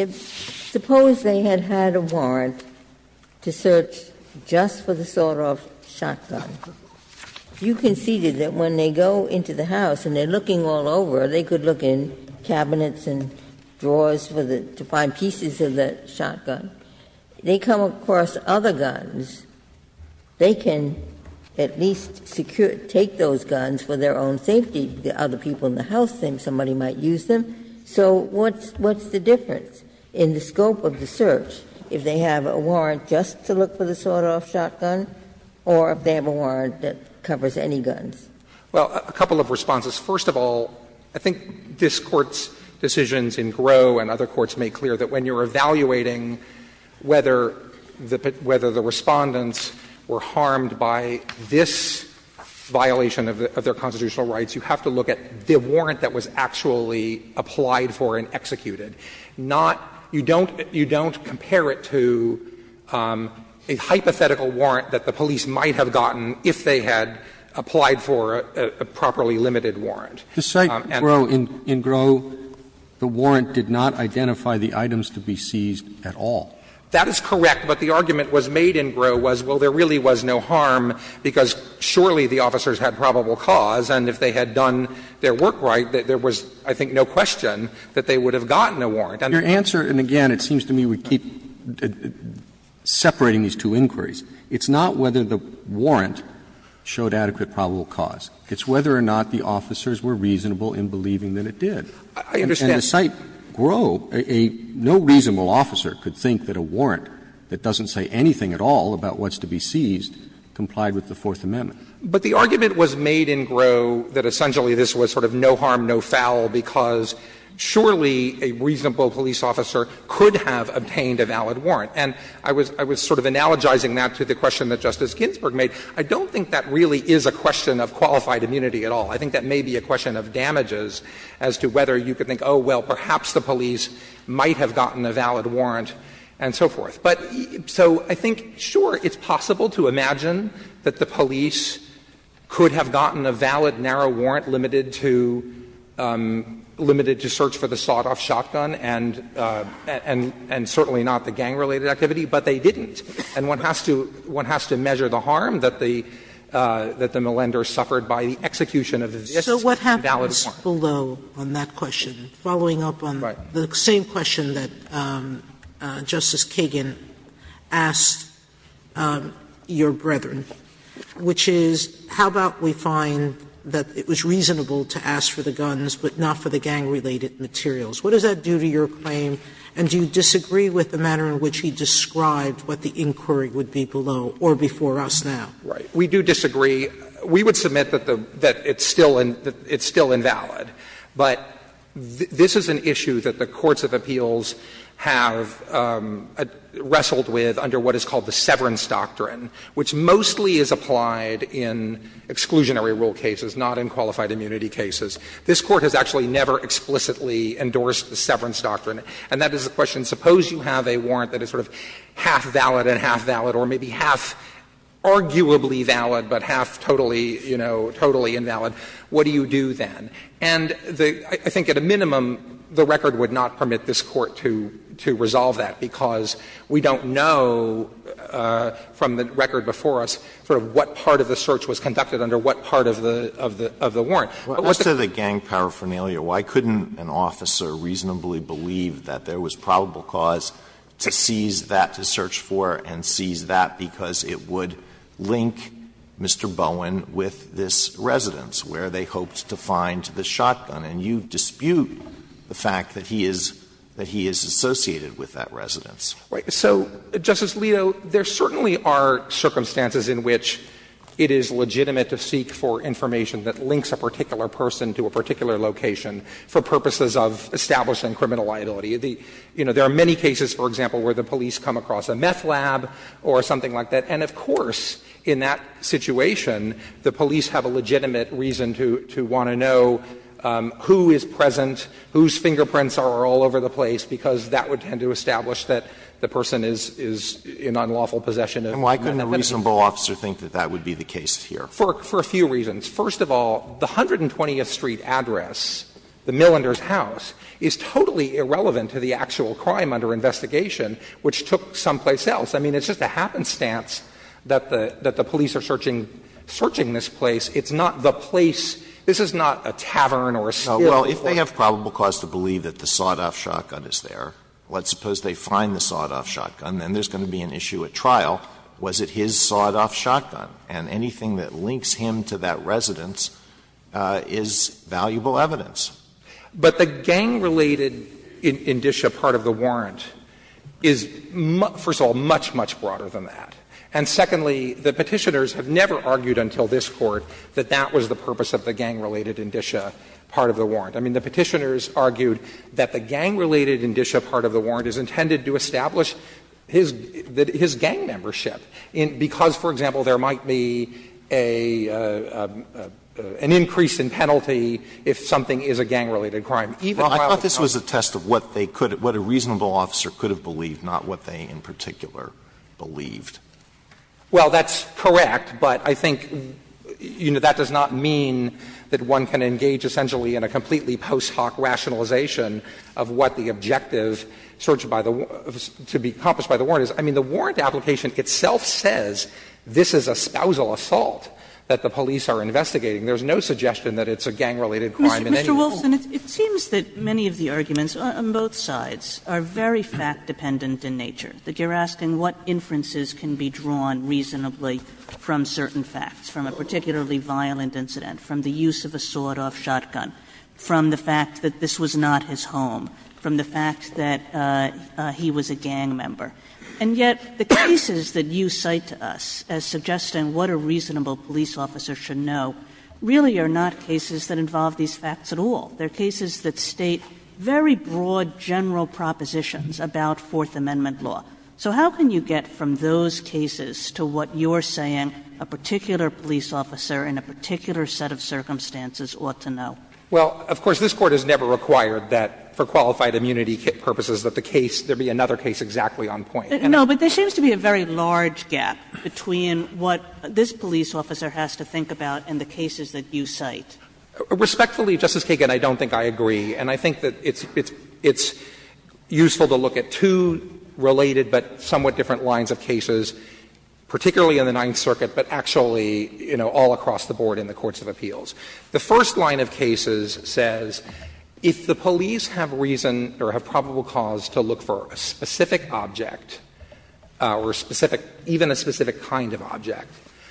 Wilson, suppose they had had a warrant to search just for the sawed-off shotgun. You conceded that when they go into the house and they are looking all over, they could look in cabinets and drawers for the to find pieces of the shotgun. They come across other guns. They can at least secure, take those guns for their own safety. The other people in the house think somebody might use them. So what's the difference in the scope of the search, if they have a warrant just to look for the sawed-off shotgun or if they have a warrant that covers any guns? Well, a couple of responses. First of all, I think this Court's decisions in Groh and other courts make clear that when you are evaluating whether the Respondents were harmed by this violation of their constitutional rights, you have to look at the warrant that was actually applied for and executed, not you don't compare it to a hypothetical warrant that the police might have gotten if they had applied for a properly limited warrant. if they had applied for a properly limited warrant. Roberts. That is correct, but the argument was made in Groh was, well, there really was no harm because surely the officers had probable cause, and if they had done their work right, there was, I think, no question that they would have gotten a warrant. And your answer, and again, it seems to me we keep separating these two inquiries, it's not whether the warrant showed adequate probable cause. It's whether or not the officers were reasonable in believing that it did. I understand. And the site, Groh, a no reasonable officer could think that a warrant that doesn't say anything at all about what's to be seized complied with the Fourth Amendment. But the argument was made in Groh that essentially this was sort of no harm, no foul, because surely a reasonable police officer could have obtained a valid warrant. And I was sort of analogizing that to the question that Justice Ginsburg made. I don't think that really is a question of qualified immunity at all. I think that may be a question of damages as to whether you could think, oh, well, perhaps the police might have gotten a valid warrant and so forth. But so I think, sure, it's possible to imagine that the police could have gotten a valid narrow warrant limited to search for the sawed-off shotgun and certainly not the gang-related activity, but they didn't. And one has to measure the harm that the Milinder suffered by the execution of this valid warrant. Sotomayor, So what happens below on that question, following up on the same question that Justice Kagan asked your brethren, which is, how about we find that it was reasonable to ask for the guns, but not for the gang-related materials? What does that do to your claim, and do you disagree with the manner in which he described what the inquiry would be below or before us now? Right. We do disagree. We would submit that the – that it's still invalid. But this is an issue that the courts of appeals have wrestled with under what is called the severance doctrine, which mostly is applied in exclusionary rule cases, not in qualified immunity cases. This Court has actually never explicitly endorsed the severance doctrine. And that is the question, suppose you have a warrant that is sort of half valid and half valid, or maybe half arguably valid, but half totally, you know, totally invalid, what do you do then? And the – I think at a minimum, the record would not permit this Court to – to resolve that, because we don't know from the record before us sort of what part of the search was conducted under what part of the – of the warrant. Alito, why couldn't an officer reasonably believe that there was probable cause to seize that to search for and seize that because it would link Mr. Bowen with this residence where they hoped to find the shotgun, and you dispute the fact that he is – that he is associated with that residence. Right. So, Justice Alito, there certainly are circumstances in which it is legitimate to seek for information that links a particular person to a particular location for purposes of establishing criminal liability. You know, there are many cases, for example, where the police come across a meth lab or something like that, and of course, in that situation, the police have a legitimate reason to – to want to know who is present, whose fingerprints are all over the place, because that would tend to establish that the person is – is in unlawful possession of meth. And why couldn't a reasonable officer think that that would be the case here? For – for a few reasons. First of all, the 120th Street address, the Millender's house, is totally irrelevant to the actual crime under investigation, which took someplace else. I mean, it's just a happenstance that the – that the police are searching – searching this place. It's not the place. This is not a tavern or a still. Alito, if they have probable cause to believe that the sawed-off shotgun is there, let's suppose they find the sawed-off shotgun, then there's going to be an issue at trial. Was it his sawed-off shotgun? And anything that links him to that residence is valuable evidence. But the gang-related indicia part of the warrant is, first of all, much, much broader than that. And secondly, the Petitioners have never argued until this Court that that was the purpose of the gang-related indicia part of the warrant. I mean, the Petitioners argued that the gang-related indicia part of the warrant is intended to establish his gang membership, because, for example, there might be a – an increase in penalty if something is a gang-related crime, even while it's not. Alito, this was a test of what they could – what a reasonable officer could have believed. Well, that's correct, but I think, you know, that does not mean that one can engage essentially in a completely post hoc rationalization of what the objective searched by the – to be accomplished by the warrant is. I mean, the warrant application itself says this is a spousal assault that the police are investigating. There's no suggestion that it's a gang-related crime in any rule. Kagan. Kagan. Kagan. Kagan. Kagan. Kagan. Kagan. Kagan. Kagan. Kagan. Kagan. Kagan. And it's hard to think of how inferences can be drawn reasonably from certain facts, from a particularly violent incident, from the use of a sawed-off shotgun, from the fact that this was not his home, from the fact that he was a gang member. And yet, the cases that you cite to us as suggesting what a reasonable police officer should know really are not cases that involve these facts at all. They're cases that state very broad, general propositions about Fourth Amendment law. So how can you get from those cases to what you're saying a particular police officer in a particular set of circumstances ought to know? Clements. Well, of course, this Court has never required that for qualified immunity purposes that the case, there be another case exactly on point. No, but there seems to be a very large gap between what this police officer has to think about and the cases that you cite. Respectfully, Justice Kagan, I don't think I agree. And I think that it's useful to look at two related but somewhat different lines of cases, particularly in the Ninth Circuit, but actually, you know, all across the board in the courts of appeals. The first line of cases says if the police have reason or have probable cause to look for a specific object or a specific, even a specific kind of object,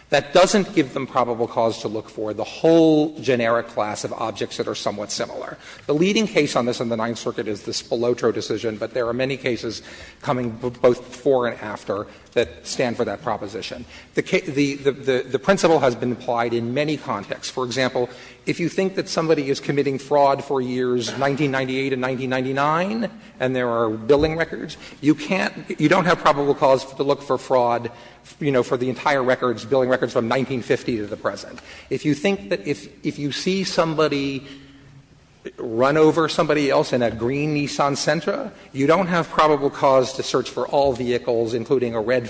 that doesn't give them probable cause to look for the whole generic class of objects that are somewhat similar. The leading case on this in the Ninth Circuit is the Spolotro decision, but there are many cases coming both before and after that stand for that proposition. The principle has been applied in many contexts. For example, if you think that somebody is committing fraud for years 1998 and 1999 and there are billing records, you can't — you don't have probable cause to look for fraud, you know, for the entire records, billing records from 1950 to the present. If you think that if you see somebody run over somebody else in a green Nissan Sentra, you don't have probable cause to search for all vehicles, including a red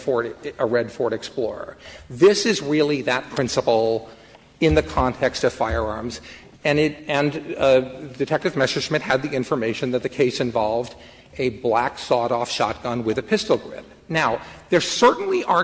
Ford Explorer. This is really that principle in the context of firearms. And it — and Detective Messerschmidt had the information that the case involved a black sawed-off shotgun with a pistol grip. And they were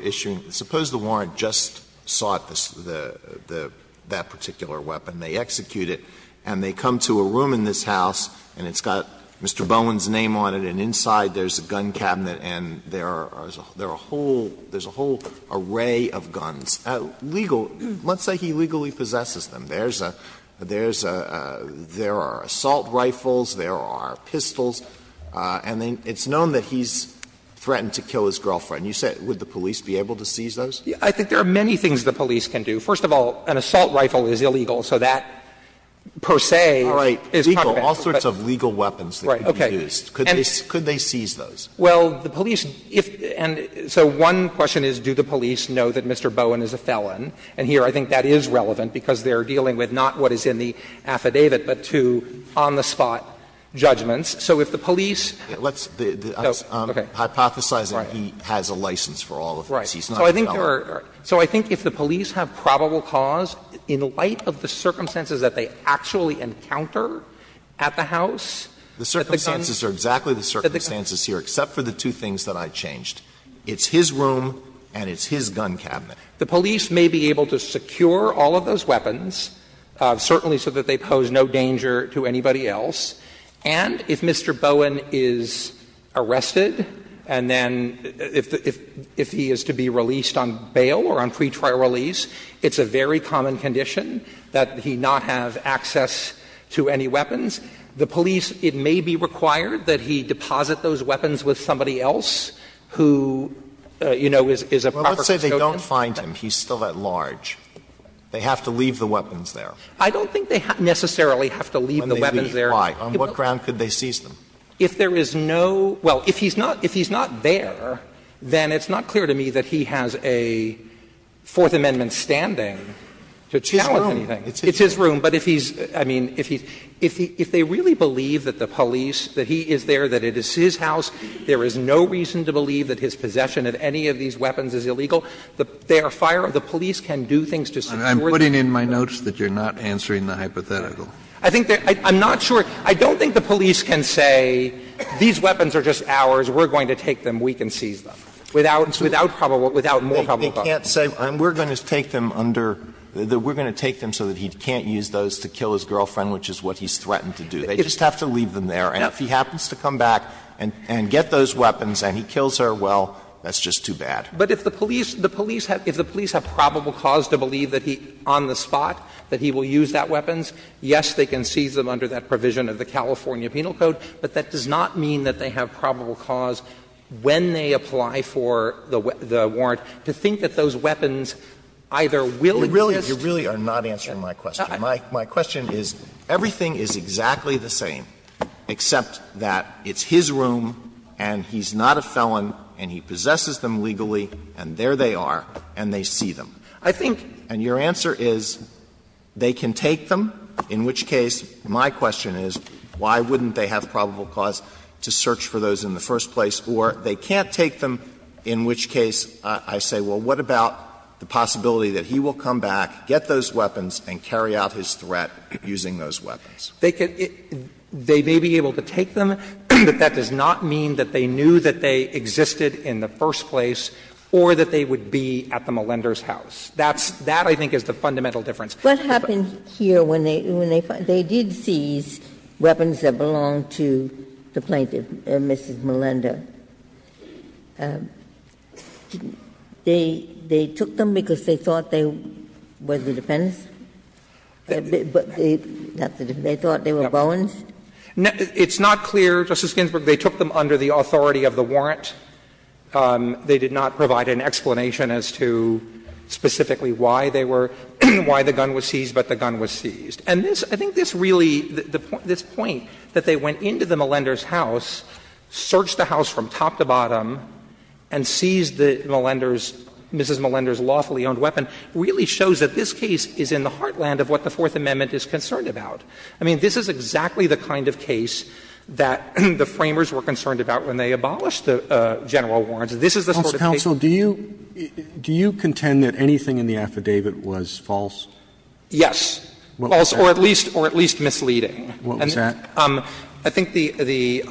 issuing — suppose the warrant just sought the — that particular weapon. They execute it, and they come to a room in this House, and it's got Mr. Bowen's name on it, and inside there's a gun cabinet, and there are a whole — there's a whole array of guns. Legal — let's say he legally possesses them. There's a — there's a — there are assault rifles, there are pistols, and then it's known that he's threatened to kill his girlfriend. You said, would the police be able to seize those? I think there are many things the police can do. First of all, an assault rifle is illegal, so that, per se, is not a bad thing. All sorts of legal weapons that could be used. Could they seize those? Well, the police — and so one question is, do the police know that Mr. Bowen is a felon? And here I think that is relevant, because they are dealing with not what is in the affidavit, but two on-the-spot judgments. So if the police — Alito, that's the — I'm hypothesizing he has a license for all of this. He's not a felon. Right. So I think there are — so I think if the police have probable cause, in light of the circumstances that they actually encounter at the house, that the gun — The circumstances are exactly the circumstances here, except for the two things that I changed. It's his room and it's his gun cabinet. The police may be able to secure all of those weapons, certainly so that they pose no danger to anybody else, and if Mr. Bowen is arrested and then — if he is to be released on bail or on pretrial release, it's a very common condition that he not have access to any weapons. The police, it may be required that he deposit those weapons with somebody else who, you know, is a proper custodian. Well, let's say they don't find him, he's still at large. They have to leave the weapons there. I don't think they necessarily have to leave the weapons there. On what ground could they seize them? If there is no — well, if he's not there, then it's not clear to me that he has a Fourth Amendment standing to challenge anything. It's his room. It's his room. But if he's — I mean, if he's — if they really believe that the police, that he is there, that it is his house, there is no reason to believe that his possession of any of these weapons is illegal, they are fire — the police can do things to secure the — Kennedy, I'm putting in my notes that you're not answering the hypothetical. I think they're — I'm not sure. I don't think the police can say, these weapons are just ours, we're going to take them, we can seize them, without — without probable — without more probable cause. They can't say, we're going to take them under — we're going to take them so that he can't use those to kill his girlfriend, which is what he's threatened to do. They just have to leave them there. And if he happens to come back and get those weapons and he kills her, well, that's just too bad. But if the police — the police have — if the police have probable cause to believe that he — on the spot, that he will use that weapons, yes, they can seize them under that provision of the California Penal Code, but that does not mean that they have probable cause when they apply for the — the warrant to think that those weapons either will exist — You really — you really are not answering my question. My question is, everything is exactly the same, except that it's his room and he's And your answer is, they can take them, in which case my question is, why wouldn't they have probable cause to search for those in the first place, or they can't take them, in which case I say, well, what about the possibility that he will come back, get those weapons, and carry out his threat using those weapons? They can — they may be able to take them, but that does not mean that they knew that they existed in the first place or that they would be at the Melender's house. That's — that, I think, is the fundamental difference. Ginsburg. What happened here when they — when they — they did seize weapons that belonged to the plaintiff, Mrs. Melender? They — they took them because they thought they were the defendants? They thought they were Bowens? It's not clear, Justice Ginsburg, they took them under the authority of the warrant. They did not provide an explanation as to specifically why they were — why the gun was seized, but the gun was seized. And this — I think this really — this point that they went into the Melender's house, searched the house from top to bottom, and seized the Melender's — Mrs. Melender's lawfully owned weapon really shows that this case is in the heartland of what the Fourth Amendment is concerned about. I mean, this is exactly the kind of case that the Framers were concerned about when they abolished the general warrants. This is the sort of case that they were concerned about. Roberts Do you contend that anything in the affidavit was false? Yes. False or at least misleading. And I think the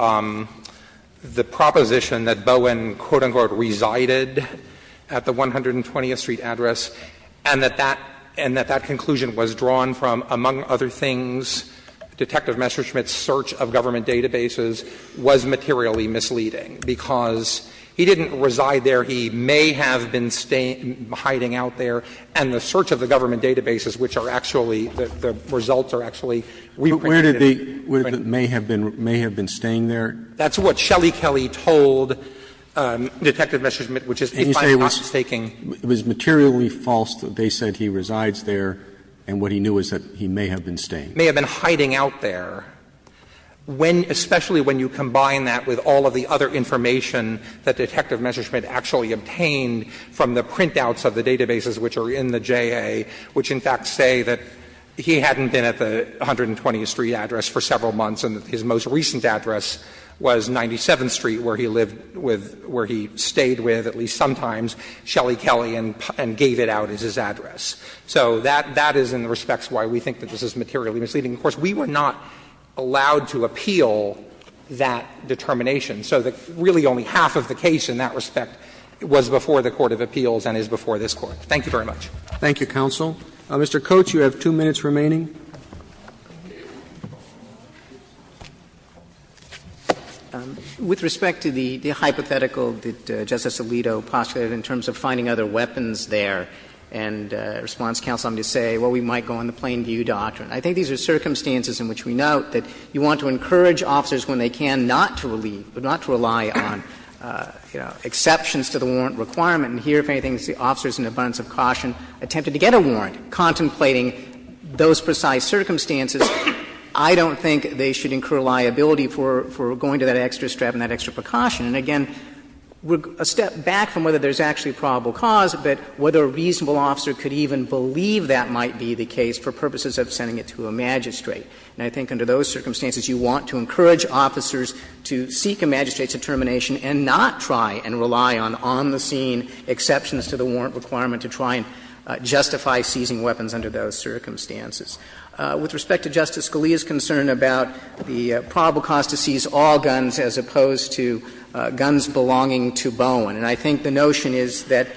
proposition that Bowen, quote, unquote, resided at the 120th Street address and that that — and that that conclusion was drawn from, among other things, Detective Messerschmidt's search of government databases was materially misleading, because he didn't reside there. He may have been staying — hiding out there, and the search of the government databases, which are actually — the results are actually reprinted. Where did the — where the — may have been — may have been staying there? That's what Shelly Kelly told Detective Messerschmidt, which is, if I'm not mistaken It was materially false that they said he resides there, and what he knew is that he may have been staying. May have been hiding out there. When — especially when you combine that with all of the other information that Detective Messerschmidt actually obtained from the printouts of the databases which are in the JA, which in fact say that he hadn't been at the 120th Street address for several months and that his most recent address was 97th Street, where he lived with — where he stayed with, at least sometimes. Shelly Kelly and — and gave it out as his address. So that — that is in the respects why we think that this is materially misleading. Of course, we were not allowed to appeal that determination. So the — really only half of the case in that respect was before the court of appeals and is before this Court. Thank you very much. Roberts. Thank you, counsel. Mr. Coates, you have two minutes remaining. With respect to the hypothetical that Justice Alito postulated in terms of finding other weapons there, and response counsel, I'm going to say, well, we might go on the plain view doctrine. I think these are circumstances in which we note that you want to encourage officers, when they can, not to leave, but not to rely on, you know, exceptions to the warrant requirement. And here, if anything, the officers, in abundance of caution, attempted to get a warrant contemplating those precise circumstances, I don't think they should incur liability for — for going to that extra strap and that extra precaution. And, again, a step back from whether there's actually probable cause, but whether a reasonable officer could even believe that might be the case for purposes of sending it to a magistrate. And I think under those circumstances, you want to encourage officers to seek a magistrate's determination and not try and rely on on-the-scene exceptions to the warrant requirement to try and justify seizing weapons under those circumstances. With respect to Justice Scalia's concern about the probable cause to seize all guns as opposed to guns belonging to Bowen, and I think the notion is that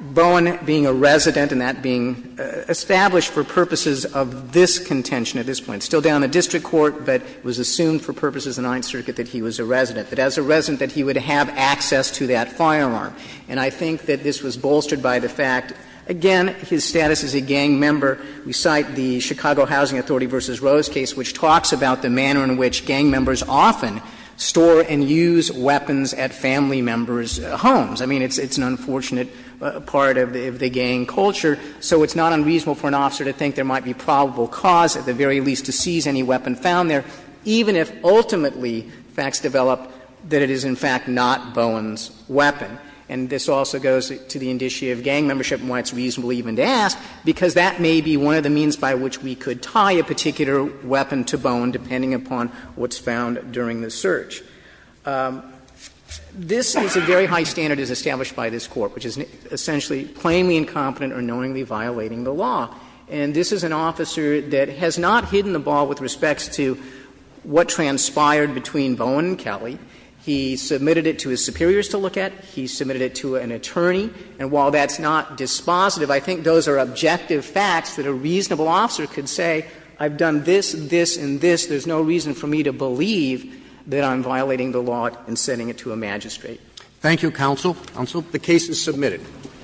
Bowen being a resident and that being established for purposes of this contention at this point, still down the district court, but was assumed for purposes of the Ninth Circuit, that he was a resident, that as a resident that he would have access to that firearm. And I think that this was bolstered by the fact, again, his status as a gang member. We cite the Chicago Housing Authority v. Rose case, which talks about the manner in which gang members often store and use weapons at family members' homes. I mean, it's an unfortunate part of the gang culture. So it's not unreasonable for an officer to think there might be probable cause, at the very least, to seize any weapon found there, even if ultimately facts develop that it is, in fact, not Bowen's weapon. And this also goes to the indicia of gang membership and why it's reasonable even to ask, because that may be one of the means by which we could tie a particular weapon to Bowen, depending upon what's found during the search. This is a very high standard as established by this Court, which is essentially plainly incompetent or knowingly violating the law. And this is an officer that has not hidden the ball with respect to what transpired between Bowen and Kelly. He submitted it to his superiors to look at. He submitted it to an attorney. And while that's not dispositive, I think those are objective facts that a reasonable officer could say, I've done this, this, and this. There's no reason for me to believe that I'm violating the law in sending it to a magistrate. Thank you, counsel. Counsel. The case is submitted.